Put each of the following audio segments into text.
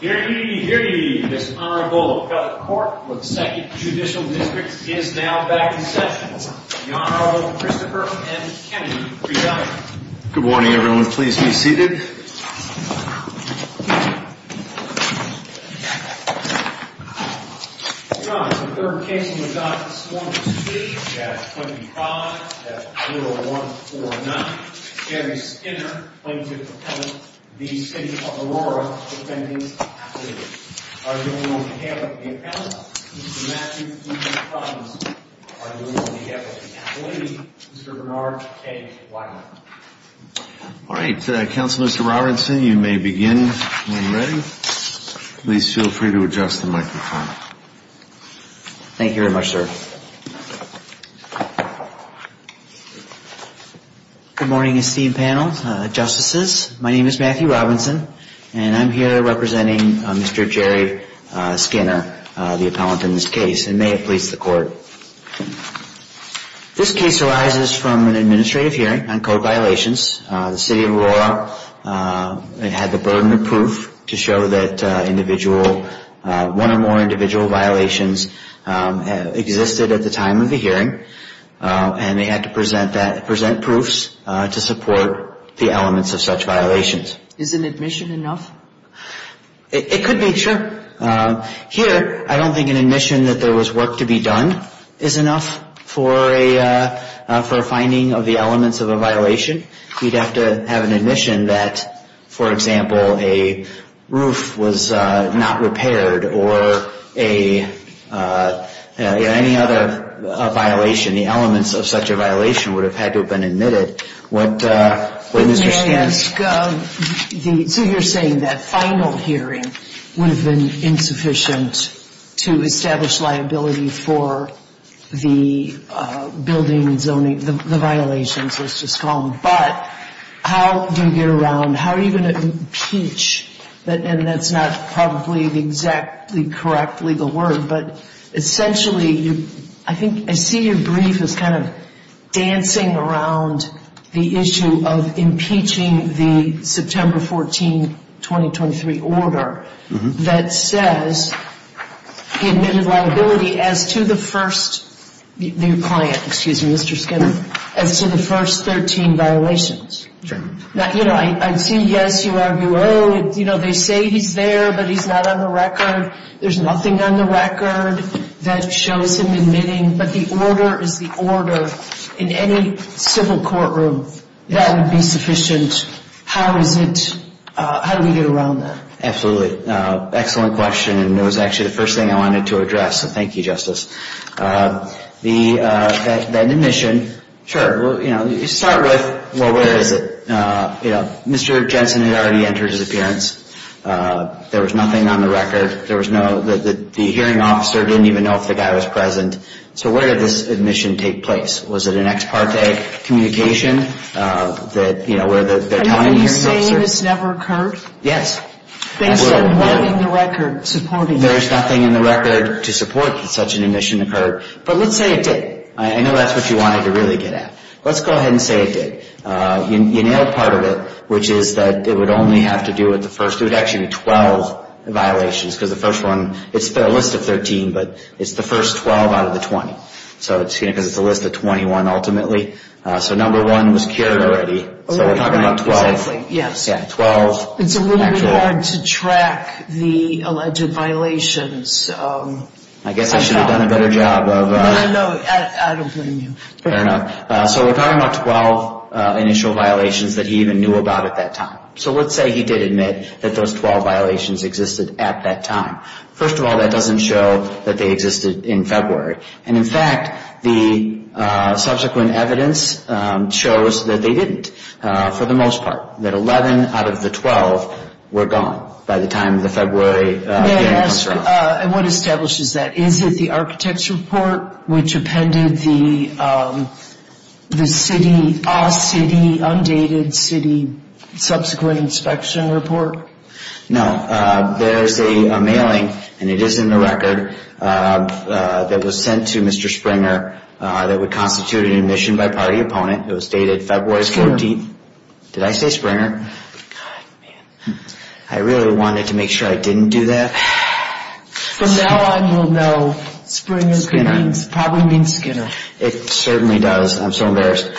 Hear ye, hear ye, this honorable appellate court for the 2nd Judicial District is now back in session. The Honorable Christopher M. Kennedy, presiding. Good morning, everyone. Please be seated. Your Honor, the third case we will discuss this morning is the case at 25-0149. Gary Skinner, plaintiff's appellate, v. City of Aurora, defendant's appellate. On behalf of the appellate, Mr. Matthew E. Collins. On behalf of the appellate, Mr. Bernard K. Weiner. All right, Counselor Mr. Robertson, you may begin when ready. Please feel free to adjust the microphone. Thank you very much, sir. Good morning, esteemed panel, justices. My name is Matthew Robertson, and I'm here representing Mr. Jerry Skinner, the appellate in this case, and may it please the court. This case arises from an administrative hearing on code violations. The City of Aurora had the burden of proof to show that one or more individual violations existed at the time of the hearing, and they had to present proofs to support the elements of such violations. Is an admission enough? It could be, sure. Here, I don't think an admission that there was work to be done is enough for a finding of the elements of a violation. You'd have to have an admission that, for example, a roof was not repaired or any other violation. The elements of such a violation would have had to have been admitted. May I ask, so you're saying that final hearing would have been insufficient to establish liability for the building zoning, the violations, let's just call them, but how do you get around, how are you going to impeach, and that's not probably the exactly correct legal word, but essentially, I think, I see your brief as kind of dancing around the issue of impeaching the September 14, 2023 order that says he admitted liability as to the first, the client, excuse me, Mr. Skinner, as to the first 13 violations. Sure. Now, you know, I've seen yes, you argue, oh, you know, they say he's there, but he's not on the record. There's nothing on the record that shows him admitting, but the order is the order. In any civil courtroom, that would be sufficient. How is it, how do we get around that? Absolutely. Excellent question, and it was actually the first thing I wanted to address, so thank you, Justice. The admission, sure, you know, you start with, well, where is it? You know, Mr. Jensen had already entered his appearance. There was nothing on the record. There was no, the hearing officer didn't even know if the guy was present, so where did this admission take place? Was it an ex parte communication that, you know, where they're telling the hearing officer? And are you saying this never occurred? Yes. Based on what in the record supporting it? But let's say it did. I know that's what you wanted to really get at. Let's go ahead and say it did. You nailed part of it, which is that it would only have to do with the first, it would actually be 12 violations, because the first one, it's a list of 13, but it's the first 12 out of the 20, because it's a list of 21 ultimately. So number one was cured already, so we're talking about 12. Exactly, yes. Yeah, 12. It's a little bit hard to track the alleged violations. I guess I should have done a better job of. But I know, I don't blame you. Fair enough. So we're talking about 12 initial violations that he even knew about at that time. So let's say he did admit that those 12 violations existed at that time. First of all, that doesn't show that they existed in February. And, in fact, the subsequent evidence shows that they didn't, for the most part, that 11 out of the 12 were gone by the time of the February hearing. Yes, and what establishes that? Is it the architect's report, which appended the city, all city, undated city, subsequent inspection report? No. There's a mailing, and it is in the record, that was sent to Mr. Springer that would constitute an admission by party opponent. It was dated February 14th. Did I say Springer? God, man. I really wanted to make sure I didn't do that. From now on, we'll know Springer probably means Skinner. It certainly does. I'm so embarrassed.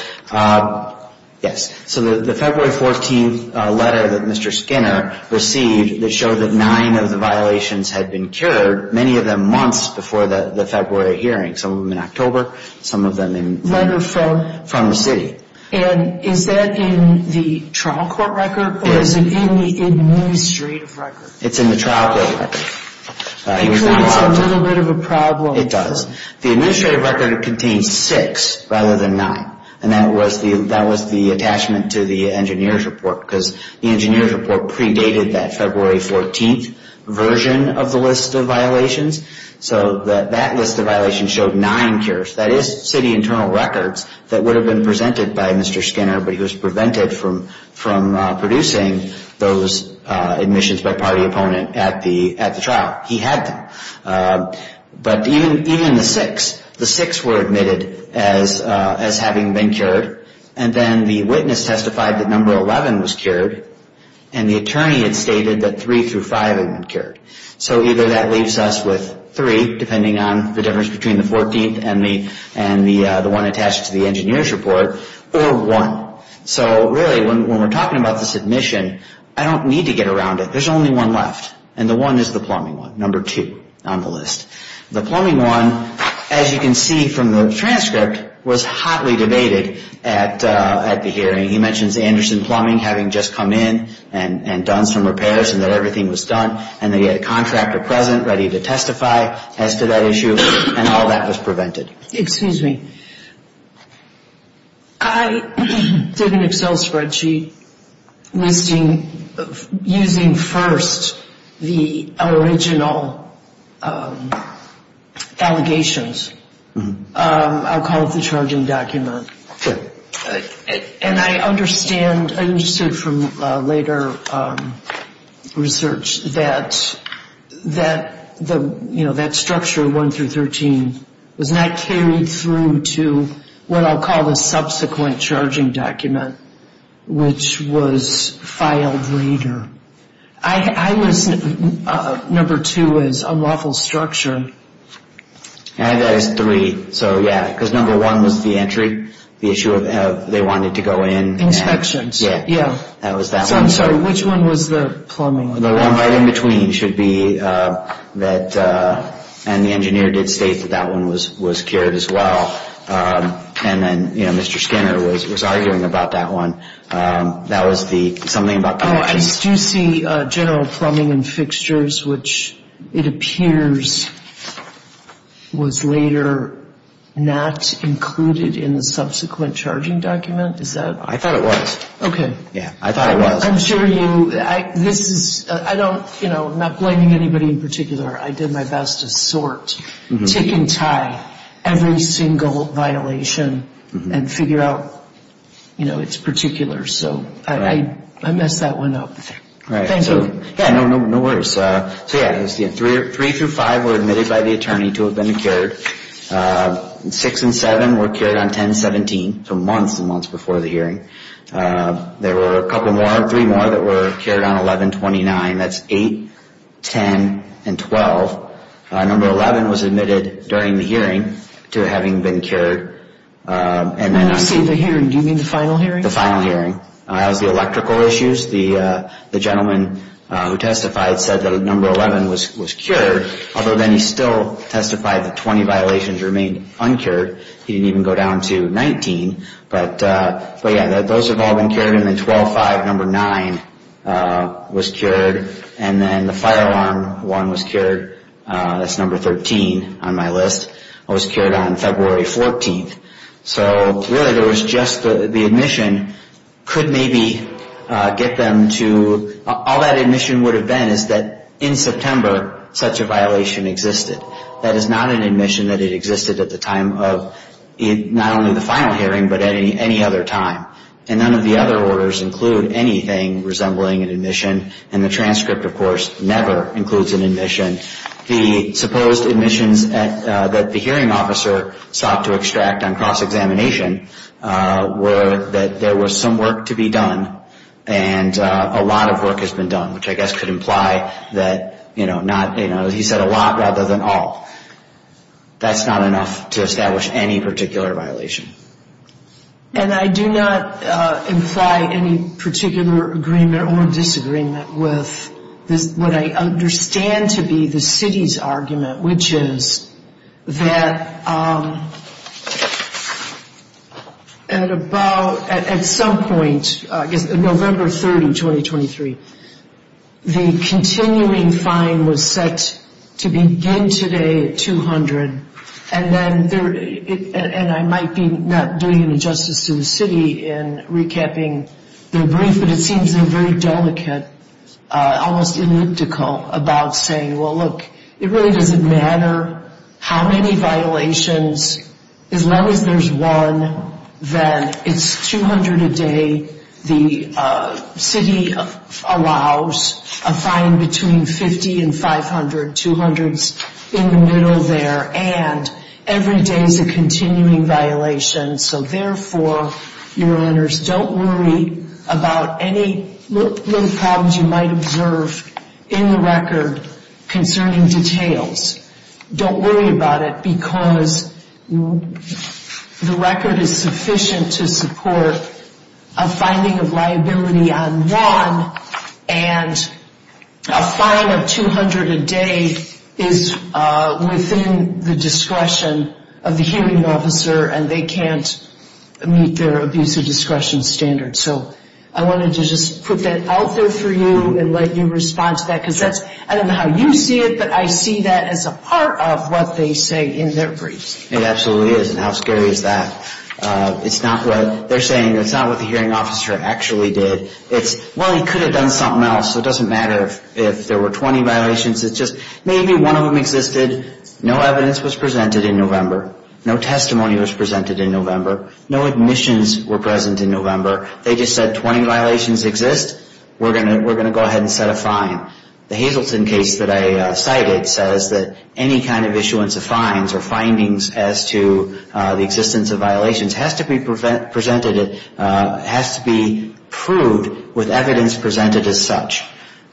Yes. So the February 14th letter that Mr. Skinner received that showed that nine of the violations had been cured, many of them months before the February hearing, some of them in October, some of them from the city. And is that in the trial court record or is it in the administrative record? It's in the trial court record. Because it's a little bit of a problem. It does. The administrative record contains six rather than nine, and that was the attachment to the engineer's report, because the engineer's report predated that February 14th version of the list of violations. So that list of violations showed nine cures. That is city internal records that would have been presented by Mr. Skinner, but he was prevented from producing those admissions by party opponent at the trial. He had them. But even the six, the six were admitted as having been cured, and then the witness testified that number 11 was cured, and the attorney had stated that three through five had been cured. So either that leaves us with three, depending on the difference between the 14th and the one attached to the engineer's report, or one. So really, when we're talking about the submission, I don't need to get around it. There's only one left, and the one is the plumbing one, number two on the list. The plumbing one, as you can see from the transcript, was hotly debated at the hearing. He mentions Anderson Plumbing having just come in and done some repairs and that everything was done, and that he had a contractor present ready to testify as to that issue, and all that was prevented. Excuse me. I did an Excel spreadsheet listing, using first the original allegations. I'll call it the charging document. And I understand, I understood from later research that, you know, that structure, one through 13, was not carried through to what I'll call the subsequent charging document, which was filed later. I was, number two was unlawful structure. And there's three. So, yeah, because number one was the entry, the issue of they wanted to go in. Inspections. Yeah, that was that one. I'm sorry, which one was the plumbing one? The one right in between should be that, and the engineer did state that that one was carried as well. And then, you know, Mr. Skinner was arguing about that one. That was the, something about that one. No, I do see general plumbing and fixtures, which it appears was later not included in the subsequent charging document. Is that? I thought it was. Okay. Yeah, I thought it was. I'm sure you, this is, I don't, you know, I'm not blaming anybody in particular. I did my best to sort, tick and tie every single violation and figure out, you know, its particulars. So, I messed that one up. Right. Yeah, no worries. So, yeah, three through five were admitted by the attorney to have been cured. Six and seven were cured on 10-17, so months and months before the hearing. There were a couple more, three more that were cured on 11-29. That's eight, 10, and 12. Number 11 was admitted during the hearing to having been cured. When you say the hearing, do you mean the final hearing? The final hearing. That was the electrical issues. The gentleman who testified said that number 11 was cured, although then he still testified that 20 violations remained uncured. He didn't even go down to 19. But, yeah, those have all been cured. And then 12-5, number nine, was cured. And then the fire alarm one was cured. That's number 13 on my list. It was cured on February 14th. So, really, there was just the admission could maybe get them to, all that admission would have been is that in September such a violation existed. That is not an admission that it existed at the time of not only the final hearing, but any other time. And none of the other orders include anything resembling an admission, and the transcript, of course, never includes an admission. The supposed admissions that the hearing officer sought to extract on cross-examination were that there was some work to be done and a lot of work has been done, which I guess could imply that, you know, he said a lot rather than all. That's not enough to establish any particular violation. And I do not imply any particular agreement or disagreement with what I understand to be the city's argument, which is that at some point, I guess November 30, 2023, the continuing fine was set to begin today at $200,000. And I might be not doing any justice to the city in recapping their brief, but it seems very delicate, almost elliptical about saying, well, look, it really doesn't matter how many violations, as long as there's one, then it's $200 a day. The city allows a fine between $50 and $500, $200 in the middle there, and every day is a continuing violation. So therefore, Your Honors, don't worry about any little problems you might observe in the record concerning details. Don't worry about it because the record is sufficient to support a finding of liability on one, and a fine of $200 a day is within the discretion of the hearing officer and they can't meet their abuse of discretion standard. So I wanted to just put that out there for you and let you respond to that, because I don't know how you see it, but I see that as a part of what they say in their briefs. It absolutely is, and how scary is that? It's not what they're saying. It's not what the hearing officer actually did. It's, well, he could have done something else, so it doesn't matter if there were 20 violations. It's just maybe one of them existed. No evidence was presented in November. No testimony was presented in November. No admissions were present in November. They just said 20 violations exist. We're going to go ahead and set a fine. The Hazleton case that I cited says that any kind of issuance of fines or findings as to the existence of violations has to be presented, has to be proved with evidence presented as such.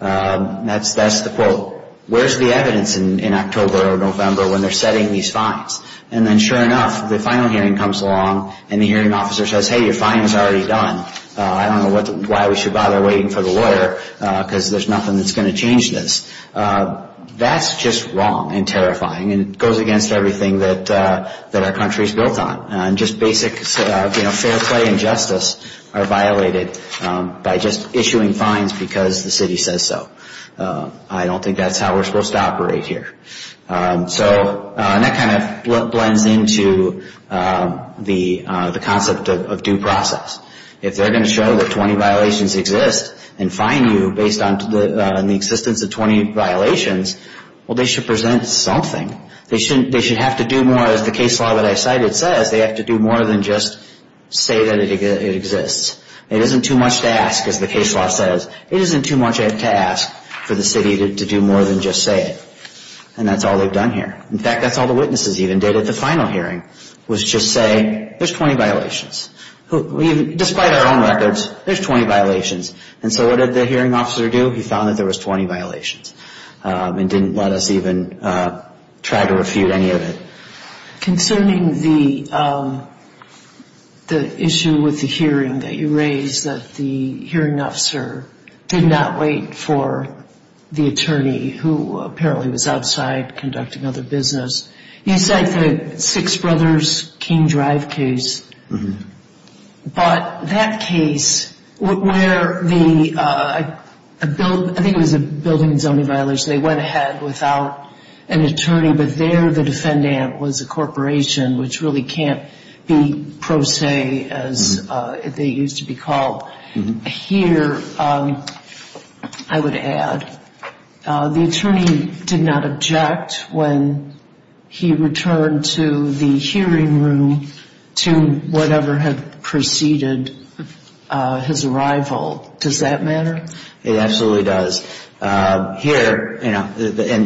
That's the quote. So where's the evidence in October or November when they're setting these fines? And then, sure enough, the final hearing comes along and the hearing officer says, hey, your fine is already done. I don't know why we should bother waiting for the lawyer because there's nothing that's going to change this. That's just wrong and terrifying, and it goes against everything that our country is built on, and just basic fair play and justice are violated by just issuing fines because the city says so. I don't think that's how we're supposed to operate here. So that kind of blends into the concept of due process. If they're going to show that 20 violations exist and fine you based on the existence of 20 violations, well, they should present something. They should have to do more, as the case law that I cited says, they have to do more than just say that it exists. It isn't too much to ask, as the case law says. It isn't too much to ask for the city to do more than just say it. And that's all they've done here. In fact, that's all the witnesses even did at the final hearing was just say there's 20 violations. Despite our own records, there's 20 violations. And so what did the hearing officer do? He found that there was 20 violations and didn't let us even try to refute any of it. Concerning the issue with the hearing that you raised, that the hearing officer did not wait for the attorney, who apparently was outside conducting other business, you cite the Six Brothers King Drive case. But that case where the ‑‑ I think it was a building and zoning violation. They went ahead without an attorney, but there the defendant was a corporation, which really can't be pro se as they used to be called. Here, I would add, the attorney did not object when he returned to the hearing room to whatever had preceded his arrival. Does that matter? It absolutely does. Here, and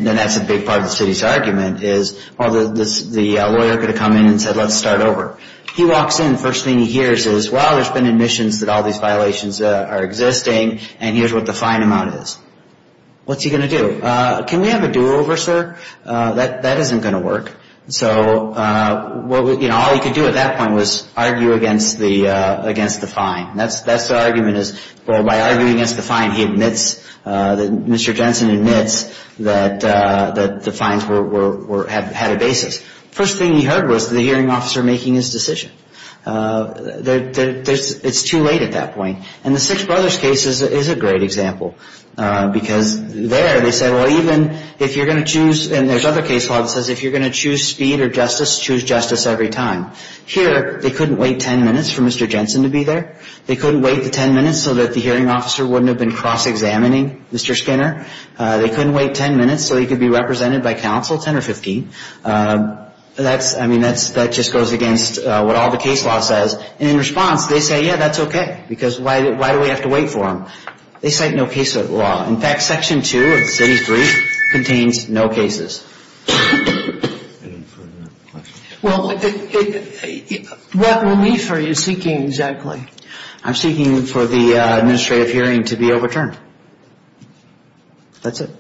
that's a big part of the city's argument, is the lawyer could have come in and said, let's start over. He walks in, first thing he hears is, well, there's been admissions that all these violations are existing, and here's what the fine amount is. What's he going to do? Can we have a do‑over, sir? That isn't going to work. So all he could do at that point was argue against the fine. That's the argument is, well, by arguing against the fine, he admits that Mr. Jensen admits that the fines had a basis. First thing he heard was the hearing officer making his decision. It's too late at that point. And the Six Brothers case is a great example because there they said, well, even if you're going to choose, and there's other case law that says if you're going to choose speed or justice, choose justice every time. Here, they couldn't wait 10 minutes for Mr. Jensen to be there. They couldn't wait the 10 minutes so that the hearing officer wouldn't have been cross‑examining Mr. Skinner. They couldn't wait 10 minutes so he could be represented by counsel, 10 or 15. I mean, that just goes against what all the case law says. And in response, they say, yeah, that's okay, because why do we have to wait for him? They cite no case law. In fact, Section 2 of the city's brief contains no cases. Well, what relief are you seeking exactly? I'm seeking for the administrative hearing to be overturned. That's it.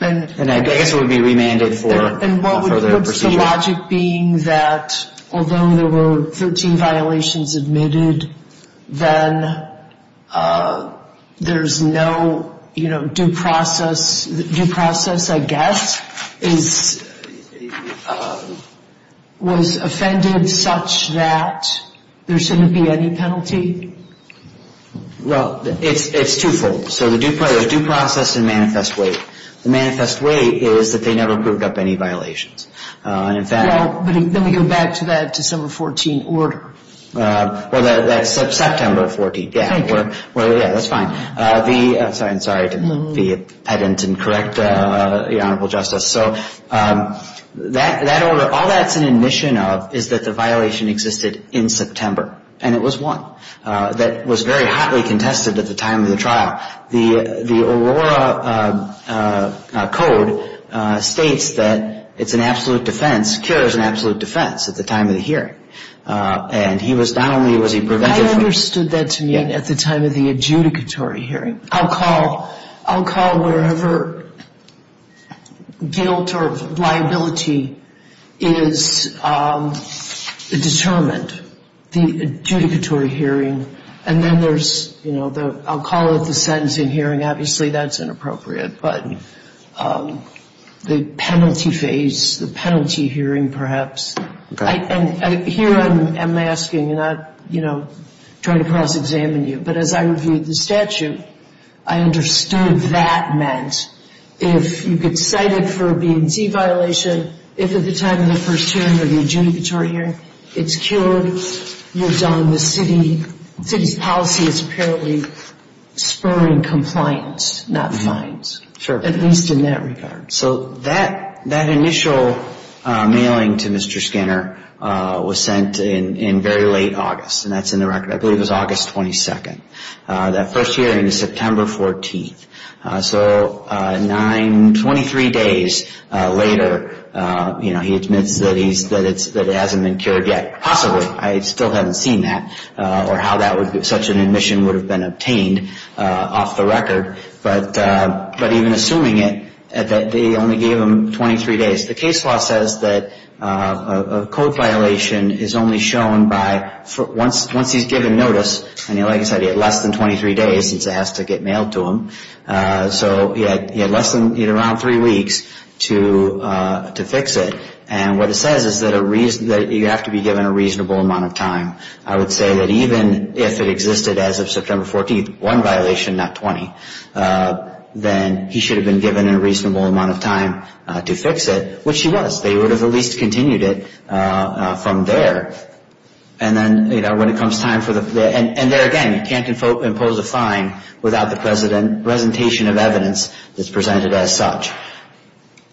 And I guess it would be remanded for further proceedings. And what would the logic being that although there were 13 violations admitted, then there's no due process? Due process, I guess, was offended such that there shouldn't be any penalty? Well, it's twofold. So there's due process and manifest weight. The manifest weight is that they never proved up any violations. Well, but then we go back to that December 14 order. Well, that's September 14, yeah. Well, yeah, that's fine. I'm sorry to be pedant and correct the Honorable Justice. So all that's an admission of is that the violation existed in September, and it was won. That was very hotly contested at the time of the trial. The Aurora Code states that it's an absolute defense, cure is an absolute defense at the time of the hearing. And he was not only was he prevented from the hearing. I understood that to mean at the time of the adjudicatory hearing. I'll call wherever guilt or liability is determined, the adjudicatory hearing, and then there's, you know, I'll call it the sentencing hearing. Obviously, that's inappropriate. But the penalty phase, the penalty hearing, perhaps. And here I'm asking, not, you know, trying to cross-examine you. But as I reviewed the statute, I understood that meant if you get cited for a B&T violation, if at the time of the first hearing or the adjudicatory hearing it's cured, you're done. The city's policy is apparently spurring compliance, not fines. Sure. At least in that regard. So that initial mailing to Mr. Skinner was sent in very late August. And that's in the record. I believe it was August 22nd. That first hearing is September 14th. So nine, 23 days later, you know, he admits that it hasn't been cured yet. Possibly. I still haven't seen that or how such an admission would have been obtained off the record. But even assuming it, they only gave him 23 days. The case law says that a code violation is only shown by once he's given notice, and like I said, he had less than 23 days since it has to get mailed to him. So he had less than around three weeks to fix it. And what it says is that you have to be given a reasonable amount of time. I would say that even if it existed as of September 14th, one violation, not 20, then he should have been given a reasonable amount of time to fix it, which he was. They would have at least continued it from there. And then, you know, when it comes time for the – and there again, you can't impose a fine without the presentation of evidence that's presented as such.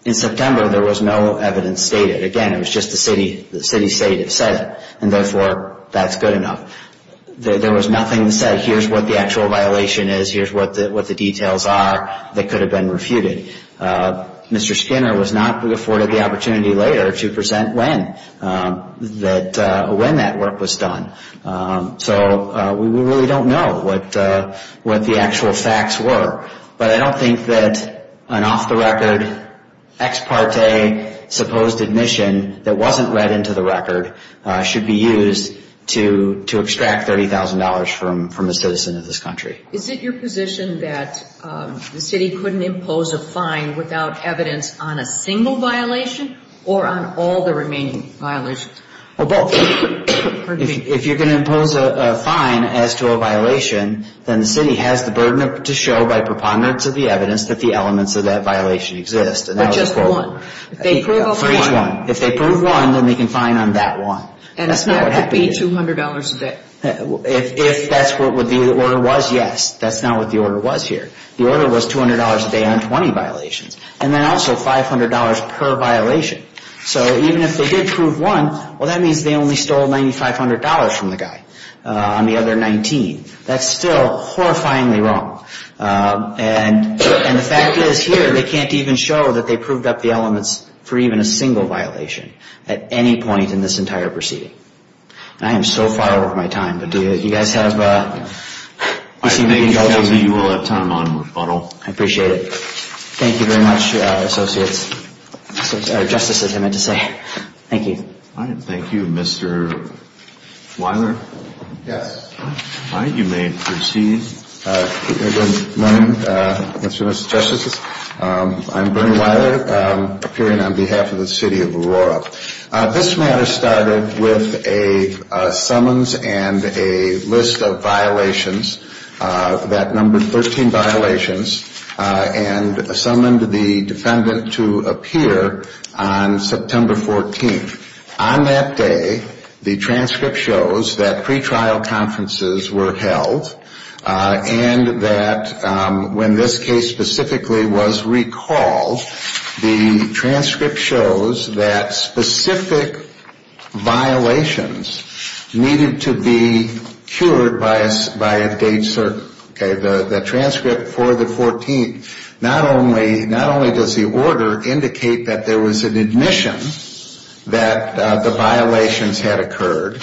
In September, there was no evidence stated. Again, it was just the city state that said it, and therefore, that's good enough. There was nothing that said here's what the actual violation is, here's what the details are that could have been refuted. Mr. Skinner was not afforded the opportunity later to present when that work was done. So we really don't know what the actual facts were. But I don't think that an off-the-record ex parte supposed admission that wasn't read into the record should be used to extract $30,000 from a citizen of this country. Is it your position that the city couldn't impose a fine without evidence on a single violation or on all the remaining violations? Well, both. If you're going to impose a fine as to a violation, then the city has the burden to show by preponderance of the evidence that the elements of that violation exist. Or just one. For each one. If they prove one, then they can fine on that one. And that could be $200 a day. If that's what the order was, yes. That's not what the order was here. The order was $200 a day on 20 violations, and then also $500 per violation. So even if they did prove one, well, that means they only stole $9,500 from the guy on the other 19. That's still horrifyingly wrong. And the fact is, here, they can't even show that they proved up the elements for even a single violation at any point in this entire proceeding. I am so far over my time. But do you guys have... I think you will have time on rebuttal. I appreciate it. Thank you very much, Associates. Or, Justices, I meant to say. Thank you. Thank you. Mr. Weiler? Yes. All right. You may proceed. Good morning, Mr. and Mrs. Justices. I'm Bernie Weiler, appearing on behalf of the City of Aurora. This matter started with a summons and a list of violations that numbered 13 violations and summoned the defendant to appear on September 14th. On that day, the transcript shows that pretrial conferences were held and that when this case specifically was recalled, the transcript shows that specific violations needed to be cured by a date certain. Okay? The transcript for the 14th, not only does the order indicate that there was an admission that the violations had occurred,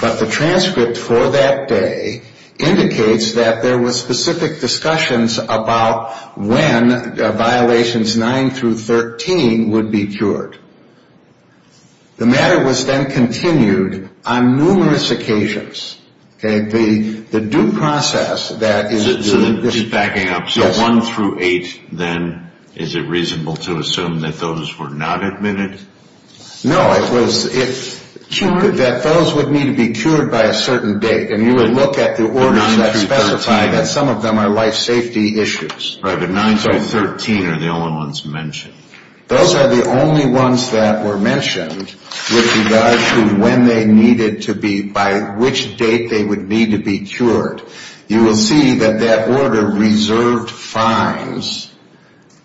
but the transcript for that day indicates that there were specific discussions about when violations 9 through 13 would be cured. The matter was then continued on numerous occasions. Okay? The due process that is the... Just backing up. So 1 through 8, then, is it reasonable to assume that those were not admitted? No. It was that those would need to be cured by a certain date, and you would look at the orders that specify that some of them are life safety issues. Right, but 9 through 13 are the only ones mentioned. Those are the only ones that were mentioned with regard to when they needed to be, by which date they would need to be cured. You will see that that order reserved fines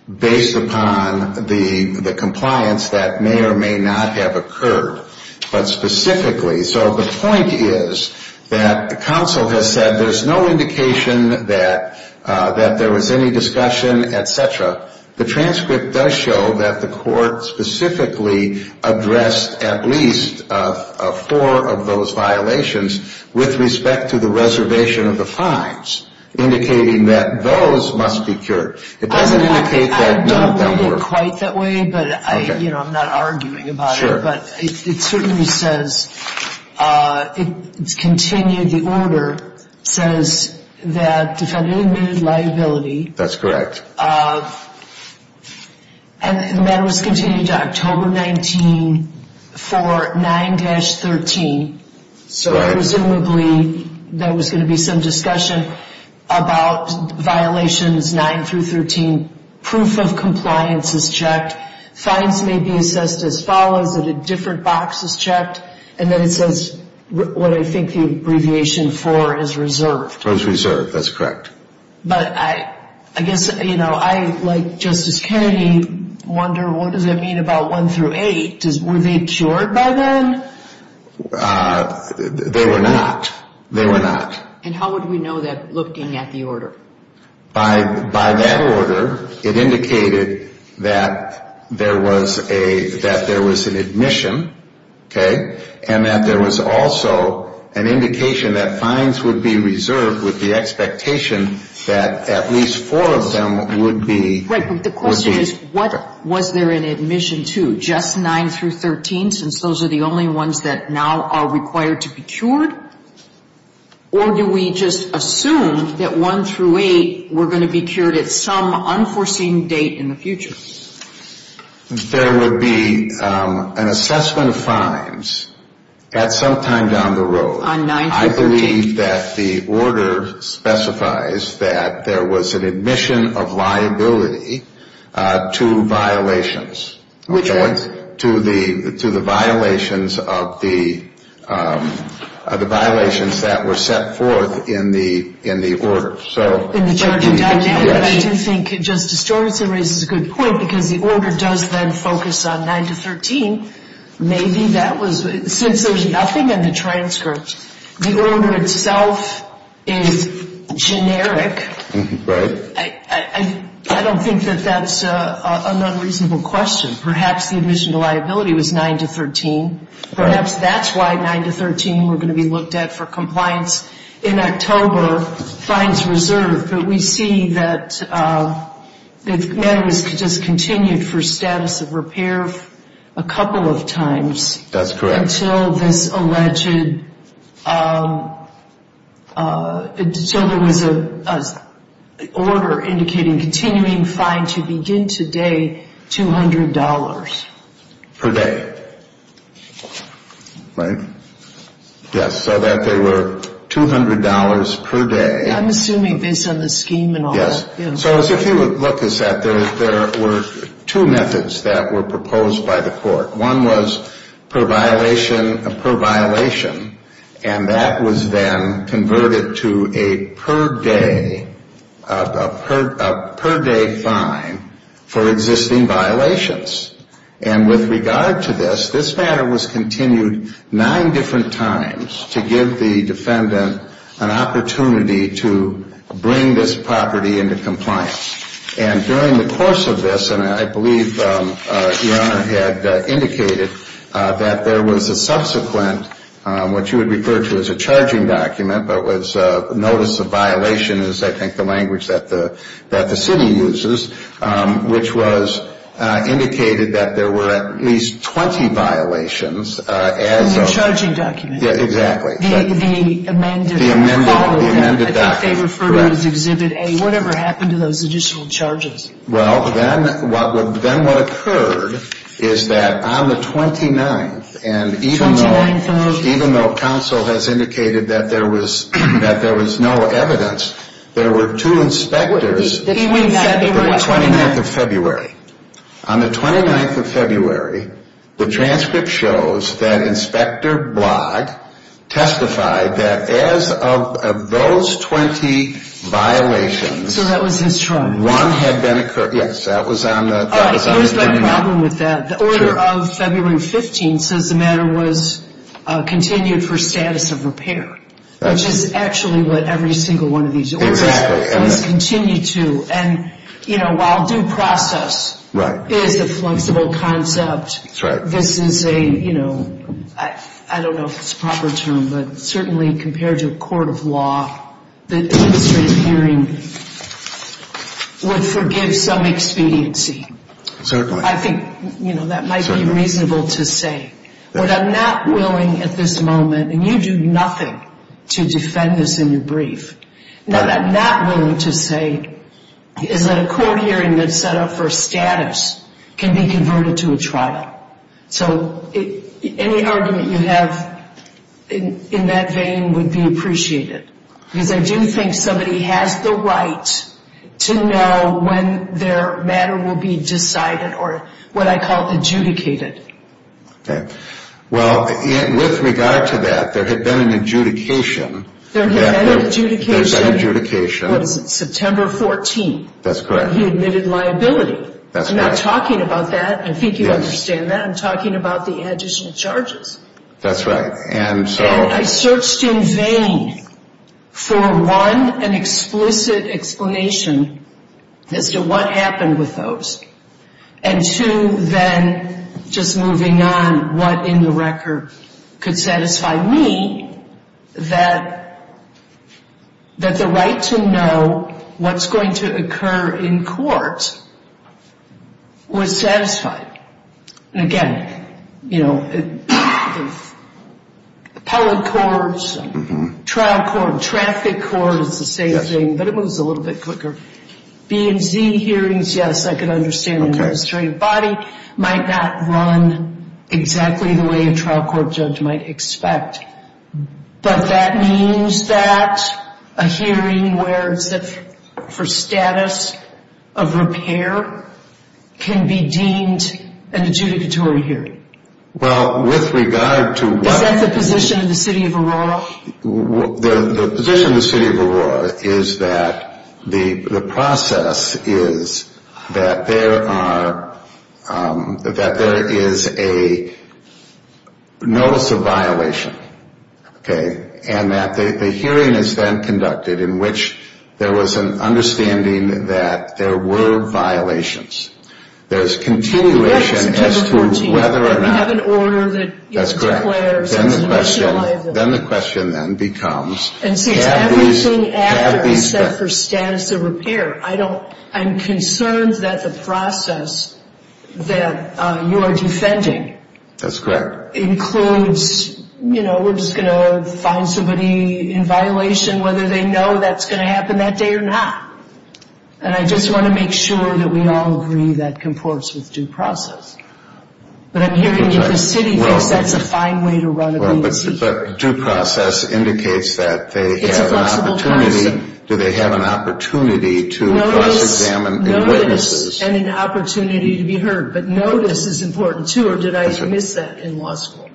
based upon the compliance that may or may not have occurred, but specifically. So the point is that counsel has said there's no indication that there was any discussion, et cetera. The transcript does show that the court specifically addressed at least four of those violations with respect to the reservation of the fines, indicating that those must be cured. It doesn't indicate that none of them were. I don't read it quite that way, but I'm not arguing about it. Sure. But it certainly says, it's continued, the order says that defendant admitted liability. That's correct. And the matter was continued to October 19 for 9-13. So presumably there was going to be some discussion about violations 9 through 13. Proof of compliance is checked. Fines may be assessed as follows, that a different box is checked, and then it says what I think the abbreviation for is reserved. That's reserved. That's correct. But I guess, you know, I, like Justice Kennedy, wonder what does it mean about 1 through 8? Were they cured by then? They were not. They were not. And how would we know that looking at the order? By that order, it indicated that there was an admission, okay, and that there was also an indication that fines would be reserved with the expectation that at least four of them would be. Right, but the question is, what was there an admission to? Just 9 through 13, since those are the only ones that now are required to be cured? Or do we just assume that 1 through 8 were going to be cured at some unforeseen date in the future? There would be an assessment of fines at some time down the road. On 9 through 13? I believe that the order specifies that there was an admission of liability to violations. Which ones? To the violations of the violations that were set forth in the order. In the charging dynamic, I do think Justice Georgeson raises a good point, because the order does then focus on 9 to 13. Maybe that was, since there's nothing in the transcript, the order itself is generic. Right. I don't think that that's an unreasonable question. Perhaps the admission to liability was 9 to 13. Perhaps that's why 9 to 13 were going to be looked at for compliance in October, fines reserved. But we see that it was just continued for status of repair a couple of times. That's correct. Until this alleged, until there was an order indicating continuing fine to begin today, $200. Per day. Right? Yes. So that they were $200 per day. I'm assuming based on the scheme and all. So if you look at that, there were two methods that were proposed by the court. One was per violation, and that was then converted to a per day, a per day fine for existing violations. And with regard to this, this matter was continued nine different times to give the defendant an opportunity to bring this property into compliance. And during the course of this, and I believe Your Honor had indicated that there was a subsequent, what you would refer to as a charging document, but was notice of violation is I think the language that the city uses, which was indicated that there were at least 20 violations. It was a charging document. Exactly. The amended. The amended document. I think they refer to it as Exhibit A. Whatever happened to those additional charges? Well, then what occurred is that on the 29th, and even though counsel has indicated that there was no evidence, there were two inspectors. He went back. The 29th of February. On the 29th of February, the transcript shows that Inspector Blogg testified that as of those 20 violations. So that was his charge. One had been occurred. Yes, that was on the 29th. Here's my problem with that. The order of February 15th says the matter was continued for status of repair, which is actually what every single one of these orders has continued to. And, you know, while due process is a flexible concept, this is a, you know, I don't know if it's a proper term, but certainly compared to a court of law, the administrative hearing would forgive some expediency. Certainly. I think, you know, that might be reasonable to say. What I'm not willing at this moment, and you do nothing to defend this in your brief, what I'm not willing to say is that a court hearing that's set up for status can be converted to a trial. So any argument you have in that vein would be appreciated. Because I do think somebody has the right to know when their matter will be decided or what I call adjudicated. Okay. Well, with regard to that, there had been an adjudication. There had been an adjudication. There was an adjudication. It was September 14th. That's correct. He admitted liability. That's correct. I'm not talking about that. I think you understand that. I'm talking about the additional charges. That's right. And so. And I searched in vain for, one, an explicit explanation as to what happened with those. And, two, then just moving on, what in the record could satisfy me that the right to know what's going to occur in court was satisfied? And, again, you know, appellate courts, trial court, traffic court, it's the same thing, but it moves a little bit quicker. B and Z hearings, yes, I can understand the administrative body might not run exactly the way a trial court judge might expect. But that means that a hearing where it's for status of repair can be deemed an adjudicatory hearing. Well, with regard to what. Is that the position of the city of Aurora? The position of the city of Aurora is that the process is that there are, that there is a notice of violation. Okay. And that the hearing is then conducted in which there was an understanding that there were violations. There's continuation as to whether or not. We have an order that declares. That's correct. Then the question then becomes. And since everything after is set for status of repair, I don't, I'm concerned that the process that you are defending. That's correct. Includes, you know, we're just going to find somebody in violation whether they know that's going to happen that day or not. And I just want to make sure that we all agree that comports with due process. But I'm hearing that the city thinks that's a fine way to run a grievance hearing. But due process indicates that they have an opportunity. It's a flexible process. Do they have an opportunity to cross-examine. Notice and an opportunity to be heard. But notice is important too or did I miss that in law school?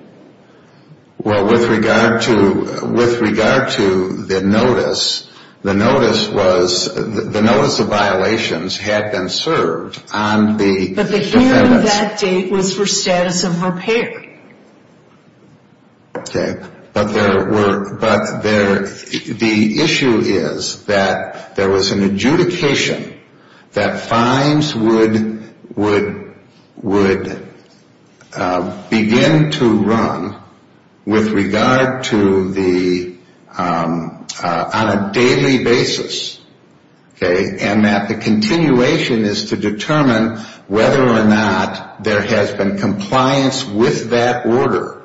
Well, with regard to, with regard to the notice, the notice was, the notice of violations had been served on the defendants. But the hearing that day was for status of repair. Okay. But there were, but there, the issue is that there was an adjudication that fines would, would, would begin to run with regard to the, on a daily basis. Okay. And that the continuation is to determine whether or not there has been compliance with that order.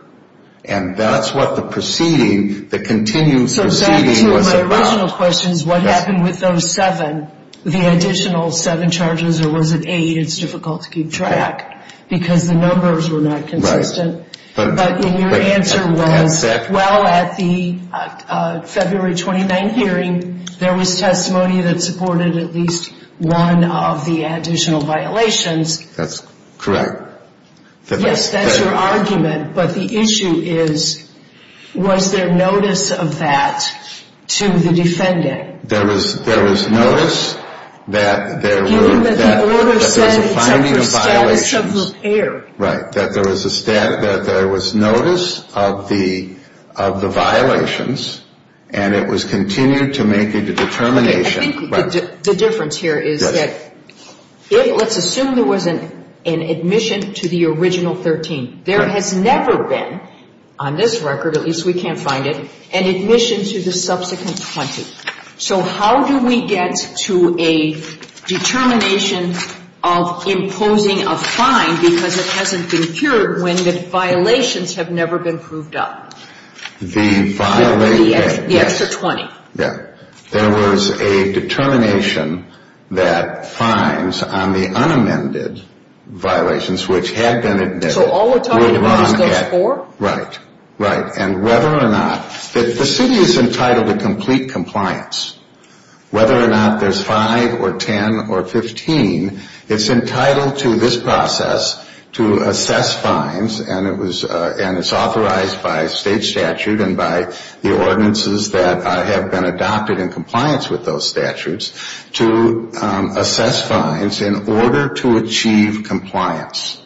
And that's what the proceeding, the continued proceeding was about. So back to my original question is what happened with those seven, the additional seven charges or was it eight? It's difficult to keep track because the numbers were not consistent. Right. But your answer was, well, at the February 29 hearing, there was testimony that supported at least one of the additional violations. That's correct. Yes, that's your argument. But the issue is, was there notice of that to the defendant? There was, there was notice that there were, that there was a finding of violations. Status of repair. Right. That there was a status, that there was notice of the, of the violations and it was continued to make a determination. Okay, I think the difference here is that it, let's assume there was an admission to the original 13. There has never been, on this record, at least we can't find it, an admission to the subsequent 20. So how do we get to a determination of imposing a fine because it hasn't been cured when the violations have never been proved up? The violation. The extra 20. There was a determination that fines on the unamended violations which had been admitted. So all we're talking about is those four? Right, right. And whether or not, the city is entitled to complete compliance. Whether or not there's 5 or 10 or 15, it's entitled to this process to assess fines and it was, and it's authorized by state statute and by the ordinances that have been adopted in compliance with those statutes to assess fines in order to achieve compliance.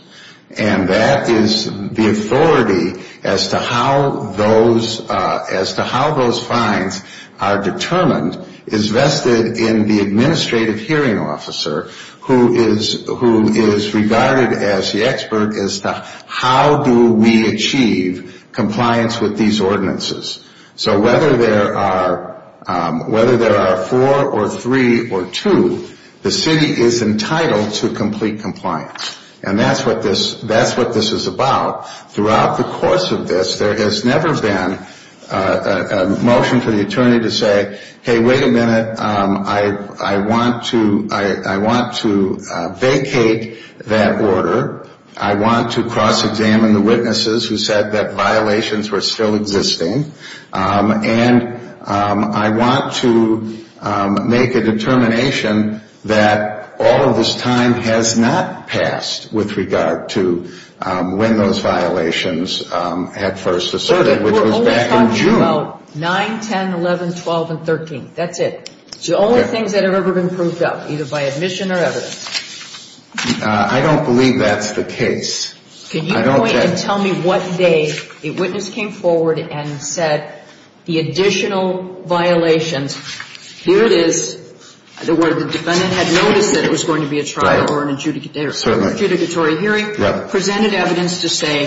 And that is the authority as to how those, as to how those fines are determined is vested in the administrative hearing officer who is regarded as the expert as to how do we achieve compliance with these ordinances. So whether there are, whether there are 4 or 3 or 2, the city is entitled to complete compliance. And that's what this, that's what this is about. Throughout the course of this, there has never been a motion to the attorney to say, hey, wait a minute, I want to, I want to vacate that order. I want to cross-examine the witnesses who said that violations were still existing. And I want to make a determination that all of this time has not passed with regard to when those violations had first asserted, which was back in June. But we're only talking about 9, 10, 11, 12, and 13. That's it. It's the only things that have ever been proved up, either by admission or evidence. I don't believe that's the case. Can you point and tell me what day a witness came forward and said the additional violations, here it is, where the defendant had noticed that it was going to be a trial or an adjudicatory hearing, presented evidence to say,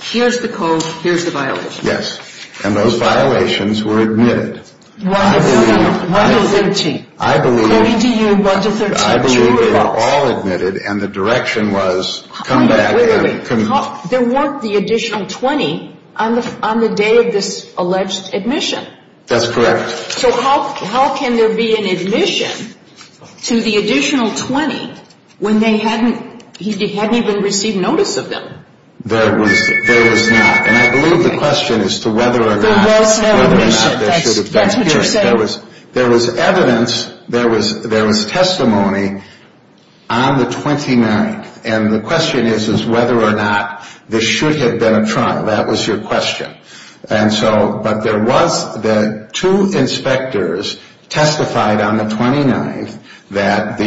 here's the code, here's the violation. Yes. And those violations were admitted. 1 to 13. I believe. According to you, 1 to 13. I believe they were all admitted, and the direction was come back and... There weren't the additional 20 on the day of this alleged admission. That's correct. So how can there be an admission to the additional 20 when they hadn't, he hadn't even received notice of them? There was not. And I believe the question is to whether or not... There was no admission. That's what you're saying. There was evidence, there was testimony on the 29th. And the question is whether or not this should have been a trial. That was your question. And so, but there was the two inspectors testified on the 29th that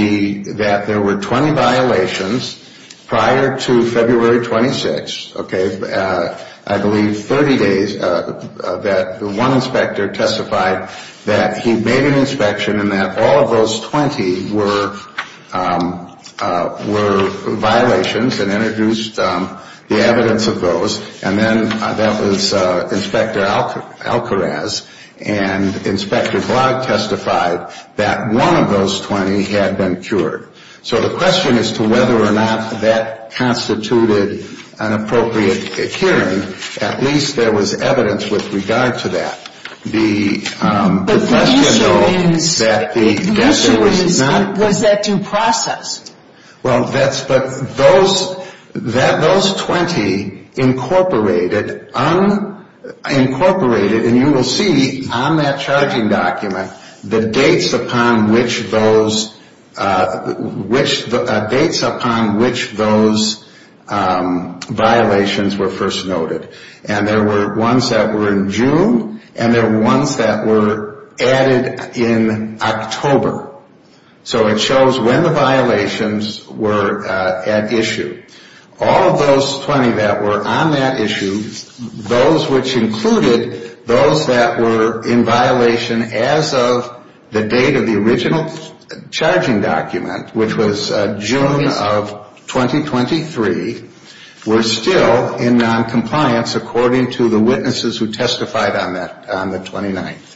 there were 20 violations prior to February 26th. I believe 30 days that one inspector testified that he made an inspection and that all of those 20 were violations and introduced the evidence of those. And then that was Inspector Alcaraz, and Inspector Blogg testified that one of those 20 had been cured. So the question is to whether or not that constituted an appropriate hearing. At least there was evidence with regard to that. The question, though... But the issue is... That the... The issue is... Was that due process? Well, that's... Those 20 incorporated... Unincorporated. And you will see on that charging document the dates upon which those... Which... Dates upon which those violations were first noted. And there were ones that were in June, and there were ones that were added in October. So it shows when the violations were at issue. All of those 20 that were on that issue, those which included those that were in violation as of the date of the original charging document, which was June of 2023, were still in noncompliance according to the witnesses who testified on that, on the 29th.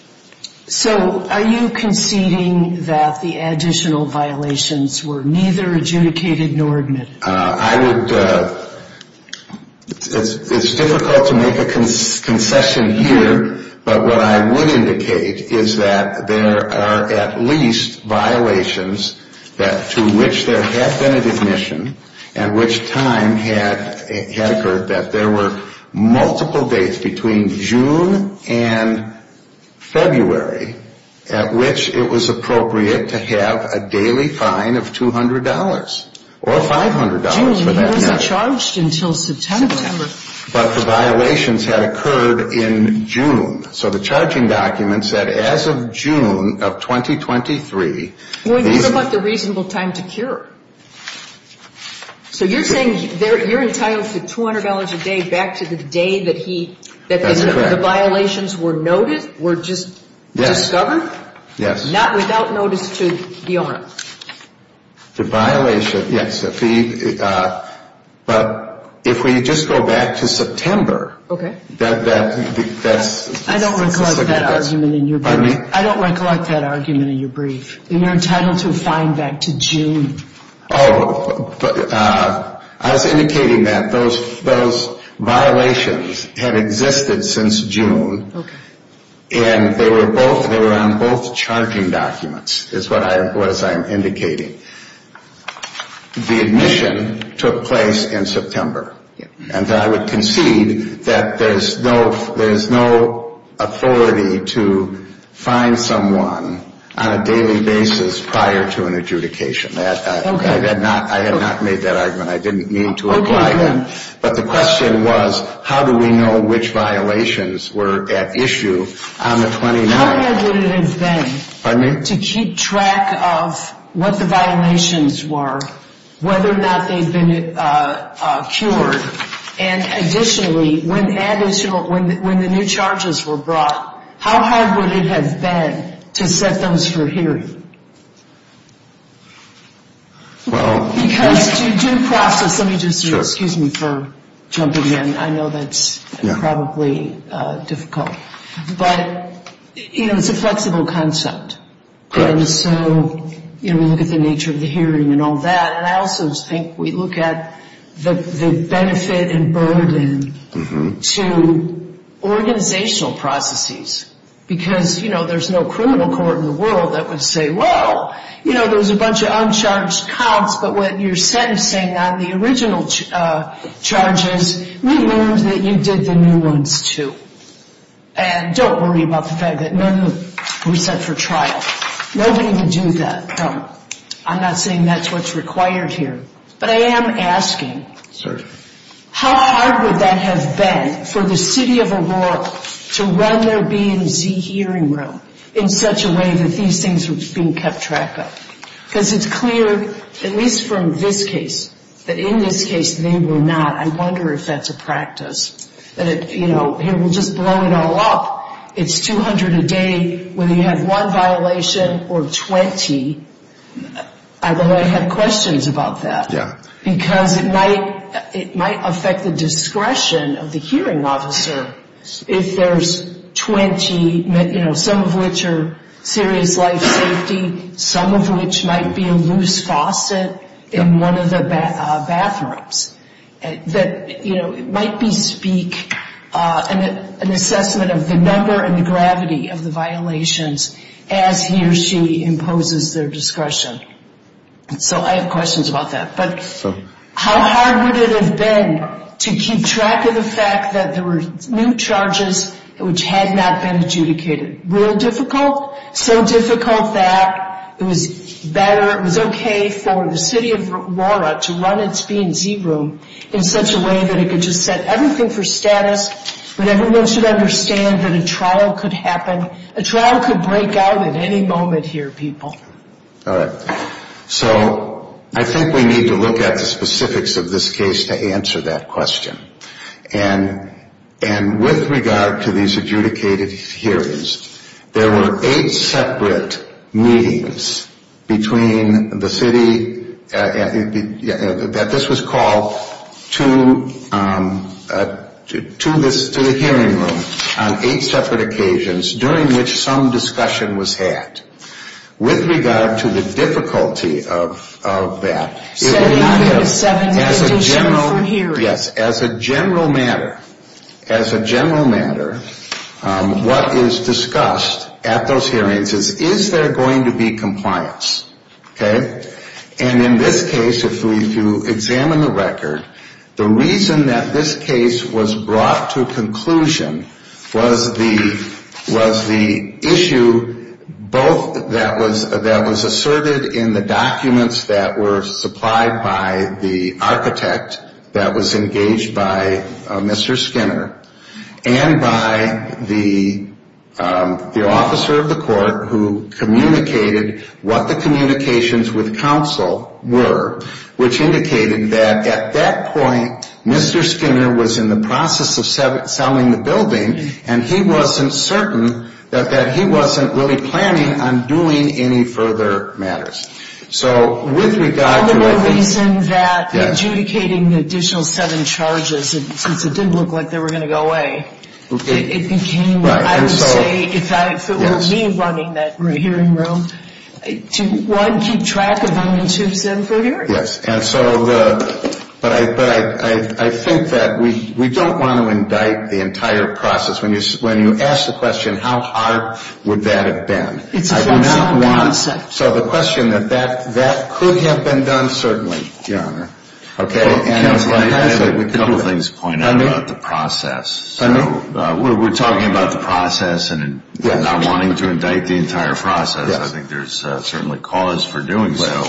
So are you conceding that the additional violations were neither adjudicated nor admitted? I would... It's difficult to make a concession here. But what I would indicate is that there are at least violations to which there had been an admission and which time had occurred that there were multiple dates between June and February at which it was appropriate to have a daily fine of $200 or $500 for that matter. June wasn't charged until September. But the violations had occurred in June. So the charging document said as of June of 2023... So you're saying you're entitled to $200 a day back to the day that he... That's correct.... that the violations were noted, were just discovered? Not without notice to the owner? The violation, yes. But if we just go back to September, that's... I don't recollect that argument in your brief. Pardon me? I don't recollect that argument in your brief. And you're entitled to a fine back to June. Oh, I was indicating that those violations had existed since June. Okay. And they were on both charging documents is what I'm indicating. The admission took place in September. And I would concede that there's no authority to fine someone on a daily basis prior to an adjudication. I have not made that argument. I didn't mean to imply that. But the question was, how do we know which violations were at issue on the 29th? How hard would it have been... Pardon me?... to keep track of what the violations were, whether or not they'd been cured? And additionally, when the new charges were brought, how hard would it have been to set those for hearing? Well... Because to do process... Let me just... Sure. Excuse me for jumping in. I know that's... Yeah.... probably difficult. But, you know, it's a flexible concept. Right. And so, you know, we look at the nature of the hearing and all that. And I also think we look at the benefit and burden to organizational processes. Because, you know, there's no criminal court in the world that would say, well, you know, there's a bunch of uncharged counts, but when you're sentencing on the original charges, we learned that you did the new ones, too. And don't worry about the fact that none of them were set for trial. Nobody would do that. I'm not saying that's what's required here. But I am asking... Sir? How hard would that have been for the city of Aurora to run their BMZ hearing room in such a way that these things were being kept track of? Because it's clear, at least from this case, that in this case they were not. I wonder if that's a practice, that it, you know, here we'll just blow it all up. It's 200 a day. Whether you have one violation or 20, I have questions about that. Yeah. Because it might affect the discretion of the hearing officer if there's 20, you know, some of which are serious life safety, some of which might be a loose faucet in one of the bathrooms. You know, it might be, speak, an assessment of the number and the gravity of the violations as he or she imposes their discretion. So I have questions about that. But how hard would it have been to keep track of the fact that there were new charges which had not been adjudicated? Real difficult? So difficult that it was better, it was okay for the city of Aurora to run its BMZ room in such a way that it could just set everything for status, but everyone should understand that a trial could happen. A trial could break out at any moment here, people. All right. So I think we need to look at the specifics of this case to answer that question. And with regard to these adjudicated hearings, there were eight separate meetings between the city that this was called to the hearing room on eight separate occasions during which some discussion was had. With regard to the difficulty of that, as a general matter, as a general matter, what is discussed at those hearings is, is there going to be compliance? Okay? And in this case, if we do examine the record, the reason that this case was brought to conclusion was the issue both that was asserted in the documents that were supplied by the architect that was engaged by Mr. Skinner and by the officer of the court who communicated what the communications with counsel were, which indicated that at that point, Mr. Skinner was in the process of selling the building and he wasn't certain that he wasn't really planning on doing any further matters. So with regard to I think... The only reason that adjudicating the additional seven charges, since it didn't look like they were going to go away, it became, I would say, if it were me running that hearing room, to, one, keep track of them in two, seven, four years. Yes. And so the... But I think that we don't want to indict the entire process. When you ask the question, how hard would that have been, I do not want... It's a question of the onset. So the question that that could have been done, certainly, Your Honor. Okay? Counsel, I have a couple things to point out about the process. I know. We're talking about the process and not wanting to indict the entire process. I think there's certainly cause for doing so,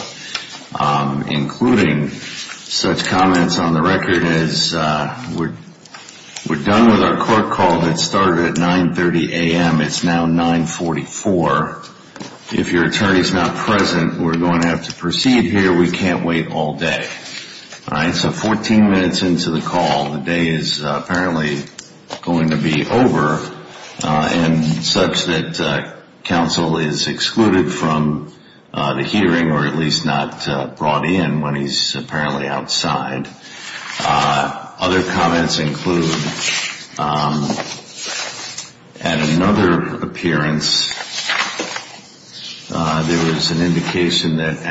including such comments on the record as, we're done with our court call that started at 9.30 a.m. It's now 9.44. If your attorney's not present, we're going to have to proceed here. We can't wait all day. All right? So 14 minutes into the call, the day is apparently going to be over and such that counsel is excluded from the hearing or at least not brought in when he's apparently outside. Other comments include, at another appearance, there was an indication that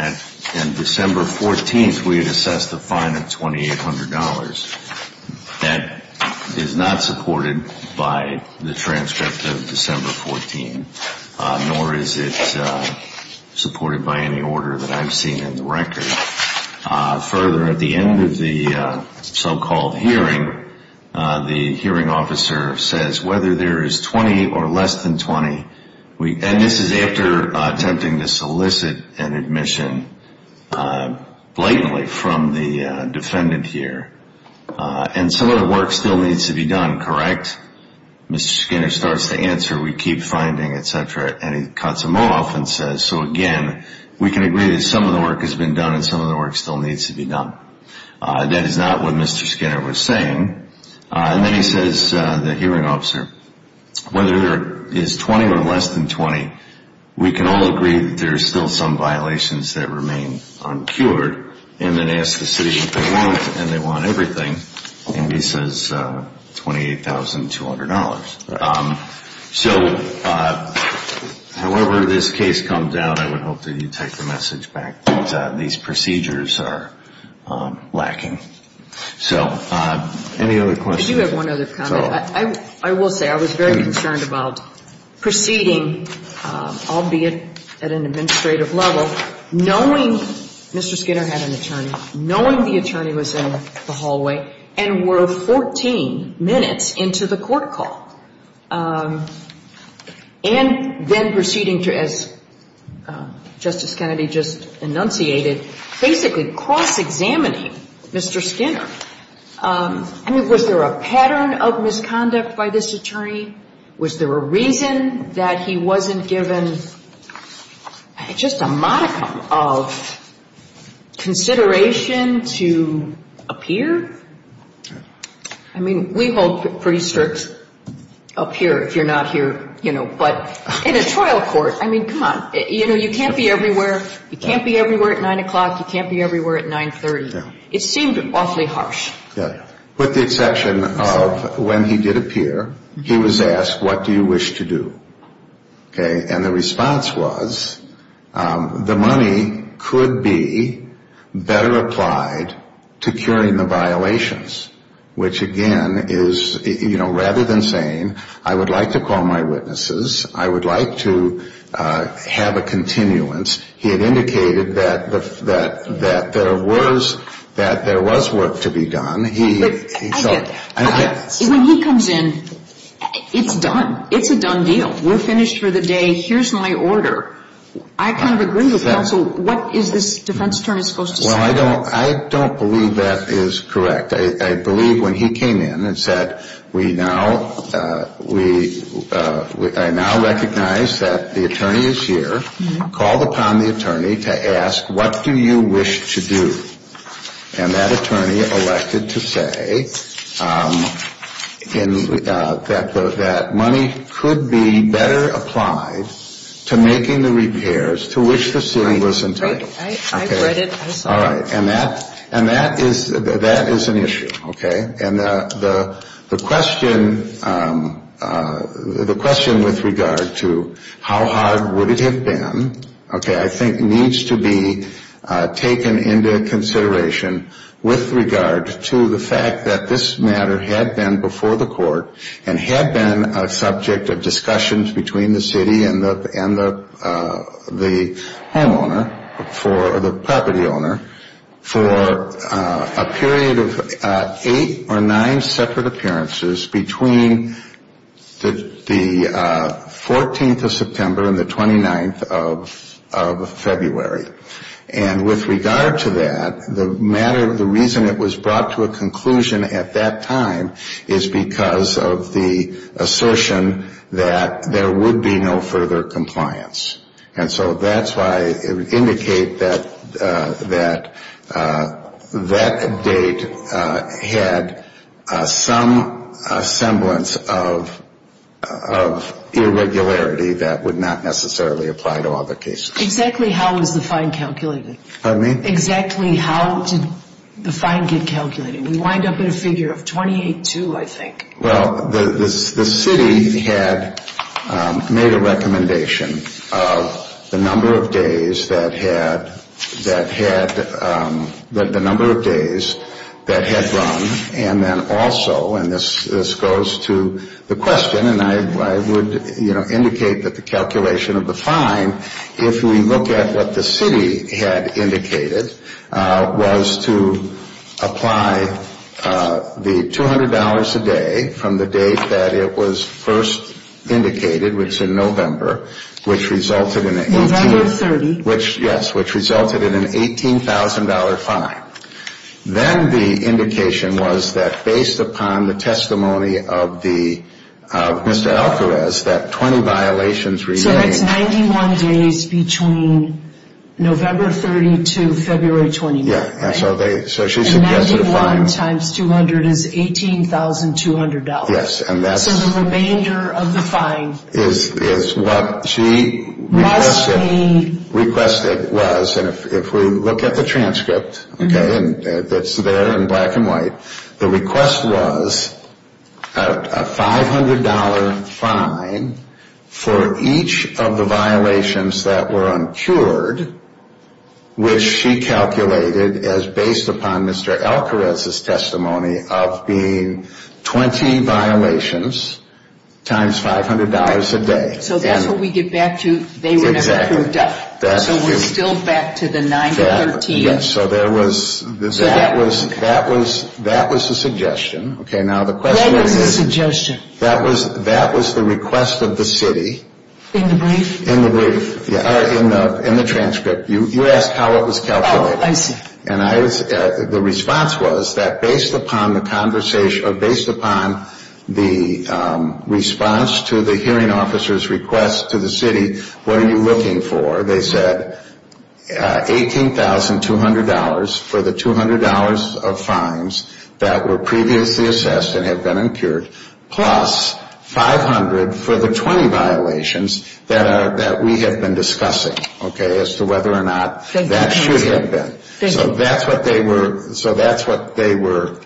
on December 14th we had assessed a fine of $2,800. That is not supported by the transcript of December 14th, nor is it supported by any order that I've seen in the record. Further, at the end of the so-called hearing, the hearing officer says whether there is 20 or less than 20, and this is after attempting to solicit an admission blatantly from the defendant here, and some of the work still needs to be done, correct? Mr. Skinner starts to answer, we keep finding, et cetera, and he cuts him off and says, so, again, we can agree that some of the work has been done and some of the work still needs to be done. That is not what Mr. Skinner was saying. And then he says to the hearing officer, whether there is 20 or less than 20, we can all agree that there are still some violations that remain uncured, and then asks the city if they want, and they want everything, and he says $28,200. So, however this case comes out, I would hope that you take the message back that these procedures are lacking. So, any other questions? I do have one other comment. I will say I was very concerned about proceeding, albeit at an administrative level, knowing Mr. Skinner had an attorney, knowing the attorney was in the hallway, and were 14 minutes into the court call, and then proceeding to, as Justice Kennedy just enunciated, basically cross-examining Mr. Skinner. I mean, was there a pattern of misconduct by this attorney? Was there a reason that he wasn't given just a modicum of consideration to appear? I mean, we hold pretty strict up here, if you're not here, you know, but in a trial court, I mean, come on, you know, you can't be everywhere. You can't be everywhere at 9 o'clock. You can't be everywhere at 930. It seemed awfully harsh. With the exception of when he did appear, he was asked, what do you wish to do? Okay. And the response was, the money could be better applied to curing the violations, which, again, is, you know, rather than saying, I would like to call my witnesses, I would like to have a continuance, he had indicated that there was work to be done. When he comes in, it's done. It's a done deal. We're finished for the day. Here's my order. I kind of agree with counsel. What is this defense attorney supposed to say? Well, I don't believe that is correct. I believe when he came in and said, I now recognize that the attorney is here, called upon the attorney to ask, what do you wish to do? And that attorney elected to say that money could be better applied to making the repairs to which the city was entitled. I've read it. I saw it. Okay. And that is an issue. Okay. And the question with regard to how hard would it have been, okay, I think needs to be taken into consideration with regard to the fact that this matter had been before the court and had been a subject of discussions between the city and the homeowner or the property owner for a period of eight or nine separate appearances between the 14th of September and the 29th of February. And with regard to that, the reason it was brought to a conclusion at that time is because of the assertion that there would be no further compliance. And so that's why it would indicate that that date had some semblance of irregularity that would not necessarily apply to other cases. Exactly how was the fine calculated? Pardon me? Exactly how did the fine get calculated? We wind up with a figure of 28-2, I think. Well, the city had made a recommendation of the number of days that had run, and then also, and this goes to the question, and I would indicate that the calculation of the fine, if we look at what the city had indicated, was to apply the $200 a day from the date that it was first indicated, which is in November, which resulted in an 18- November 30. Yes, which resulted in an $18,000 fine. Then the indication was that based upon the testimony of Mr. Alcarez, that 20 violations remained. So that's 91 days between November 30 to February 29th, right? Yes, and so she suggested a fine. And 91 times 200 is $18,200. Yes, and that's- So the remainder of the fine- Must be- Requested was, and if we look at the transcript, okay, that's there in black and white, the request was a $500 fine for each of the violations that were uncured, which she calculated as based upon Mr. Alcarez's testimony of being 20 violations times $500 a day. So that's what we get back to they were never cured up. So we're still back to the 9 to 13. Yes, so there was- So that- That was the suggestion. Okay, now the question is- What was the suggestion? That was the request of the city. In the brief? In the brief. In the transcript. You asked how it was calculated. Oh, I see. And the response was that based upon the conversation, or based upon the response to the hearing officer's request to the city, what are you looking for? They said $18,200 for the $200 of fines that were previously assessed and have been uncured, plus $500 for the 20 violations that we have been discussing, okay, as to whether or not that should have been. So that's what they were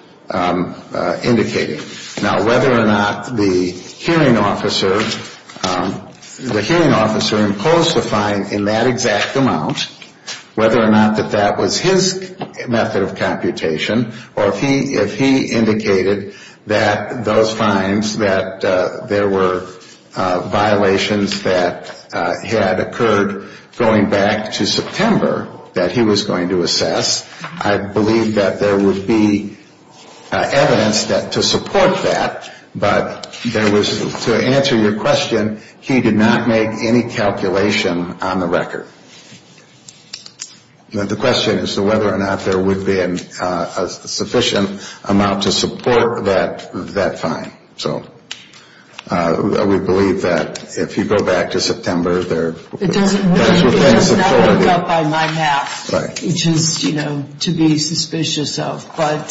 indicating. Now, whether or not the hearing officer imposed a fine in that exact amount, whether or not that that was his method of computation, or if he indicated that those fines, that there were violations that had occurred going back to September that he was going to assess, I believe that there would be evidence to support that. But there was, to answer your question, he did not make any calculation on the record. The question is whether or not there would be a sufficient amount to support that fine. So we believe that if you go back to September, there would be sufficient. It doesn't work out by my math, which is, you know, to be suspicious of. But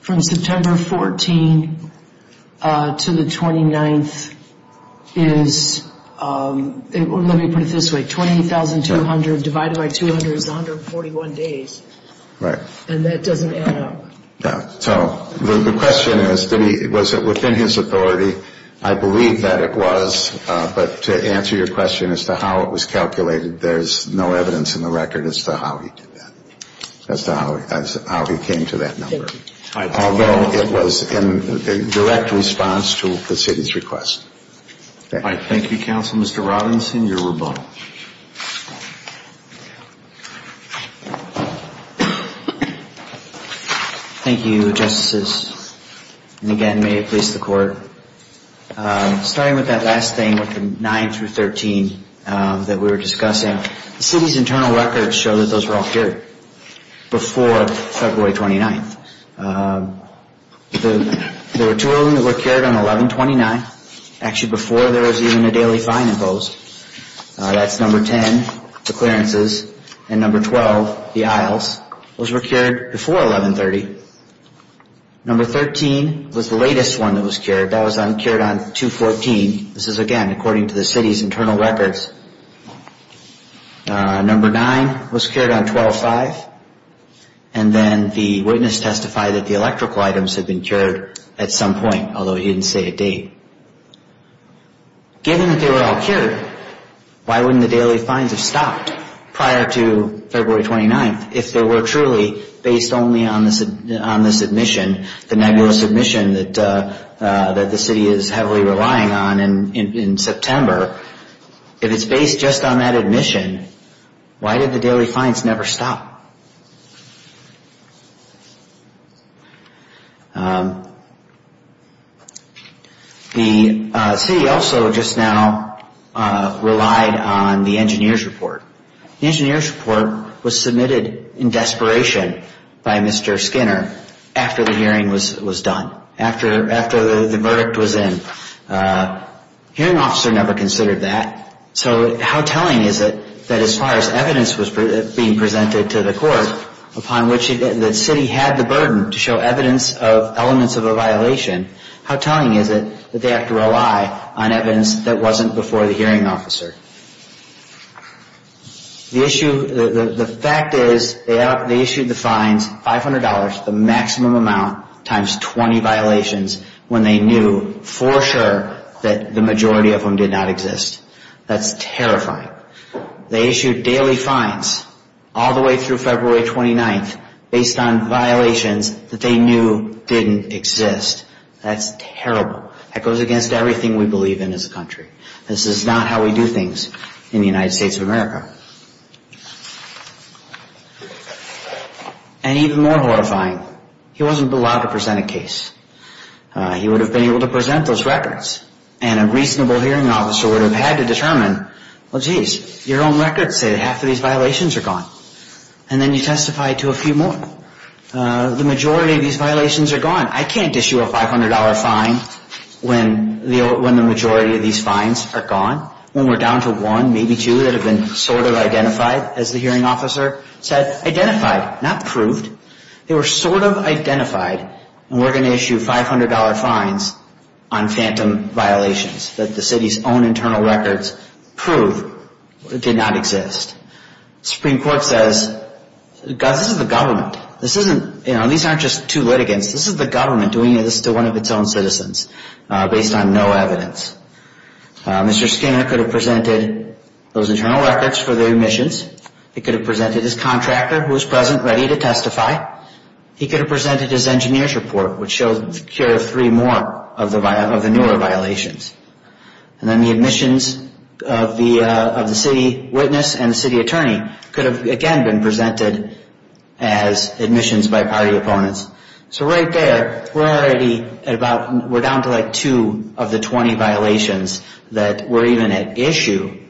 from September 14 to the 29th is, let me put it this way, $28,200 divided by 200 is 141 days. Right. And that doesn't add up. No. So the question is, was it within his authority? I believe that it was. But to answer your question as to how it was calculated, there's no evidence in the record as to how he did that, as to how he came to that number, although it was in direct response to the city's request. Thank you. Thank you, Counsel. Mr. Robinson, you're rebuttal. Thank you, Justices. And again, may it please the Court, starting with that last thing with the 9 through 13 that we were discussing, the city's internal records show that those were all cured before February 29th. There were two only that were cured on 11-29. Actually, before there was even a daily fine imposed. That's number 10, the clearances, and number 12, the aisles. Those were cured before 11-30. Number 13 was the latest one that was cured. That was cured on 2-14. This is, again, according to the city's internal records. Number 9 was cured on 12-5. And then the witness testified that the electrical items had been cured at some point, although he didn't say a date. Given that they were all cured, why wouldn't the daily fines have stopped prior to February 29th if they were truly based only on the submission, the nebulous submission that the city is heavily relying on in September? If it's based just on that admission, why did the daily fines never stop? The city also just now relied on the engineer's report. The engineer's report was submitted in desperation by Mr. Skinner after the hearing was done, after the verdict was in. The hearing officer never considered that. So how telling is it that as far as evidence was being presented to the court, upon which the city had the burden to show evidence of elements of a violation, how telling is it that they have to rely on evidence that wasn't before the hearing officer? The fact is they issued the fines $500, the maximum amount, times 20 violations when they knew for sure that the majority of them did not exist. That's terrifying. They issued daily fines all the way through February 29th based on violations that they knew didn't exist. That's terrible. That goes against everything we believe in as a country. This is not how we do things in the United States of America. And even more horrifying, he wasn't allowed to present a case. He would have been able to present those records, and a reasonable hearing officer would have had to determine, well, geez, your own records say that half of these violations are gone. And then you testify to a few more. The majority of these violations are gone. I can't issue a $500 fine when the majority of these fines are gone. When we're down to one, maybe two that have been sort of identified, as the hearing officer said, identified, not proved, they were sort of identified, and we're going to issue $500 fines on phantom violations that the city's own internal records prove did not exist. The Supreme Court says, this is the government. These aren't just two litigants. This is the government doing this to one of its own citizens based on no evidence. Mr. Skinner could have presented those internal records for the omissions. He could have presented his contractor, who was present, ready to testify. He could have presented his engineer's report, which showed the cure of three more of the newer violations. And then the omissions of the city witness and the city attorney could have, again, been presented as omissions by party opponents. So right there, we're already at about, we're down to like two of the 20 violations that were even at issue.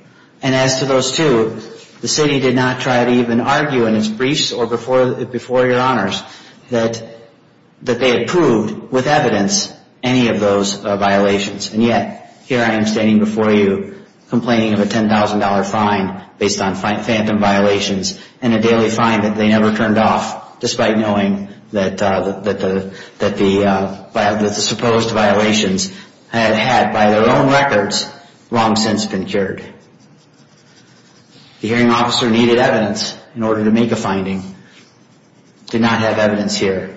And as to those two, the city did not try to even argue in its briefs or before your honors that they had proved, with evidence, any of those violations. And yet, here I am standing before you, complaining of a $10,000 fine based on phantom violations and a daily fine that they never turned off, despite knowing that the supposed violations had had, by their own records, long since been cured. The hearing officer needed evidence in order to make a finding. Did not have evidence here.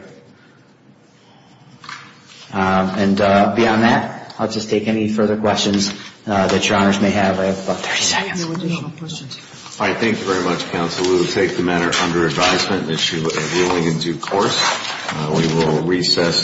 And beyond that, I'll just take any further questions that your honors may have. I have about 30 seconds. All right, thank you very much, counsel. We will take the matter under advisement and issue a ruling in due course. We will recess.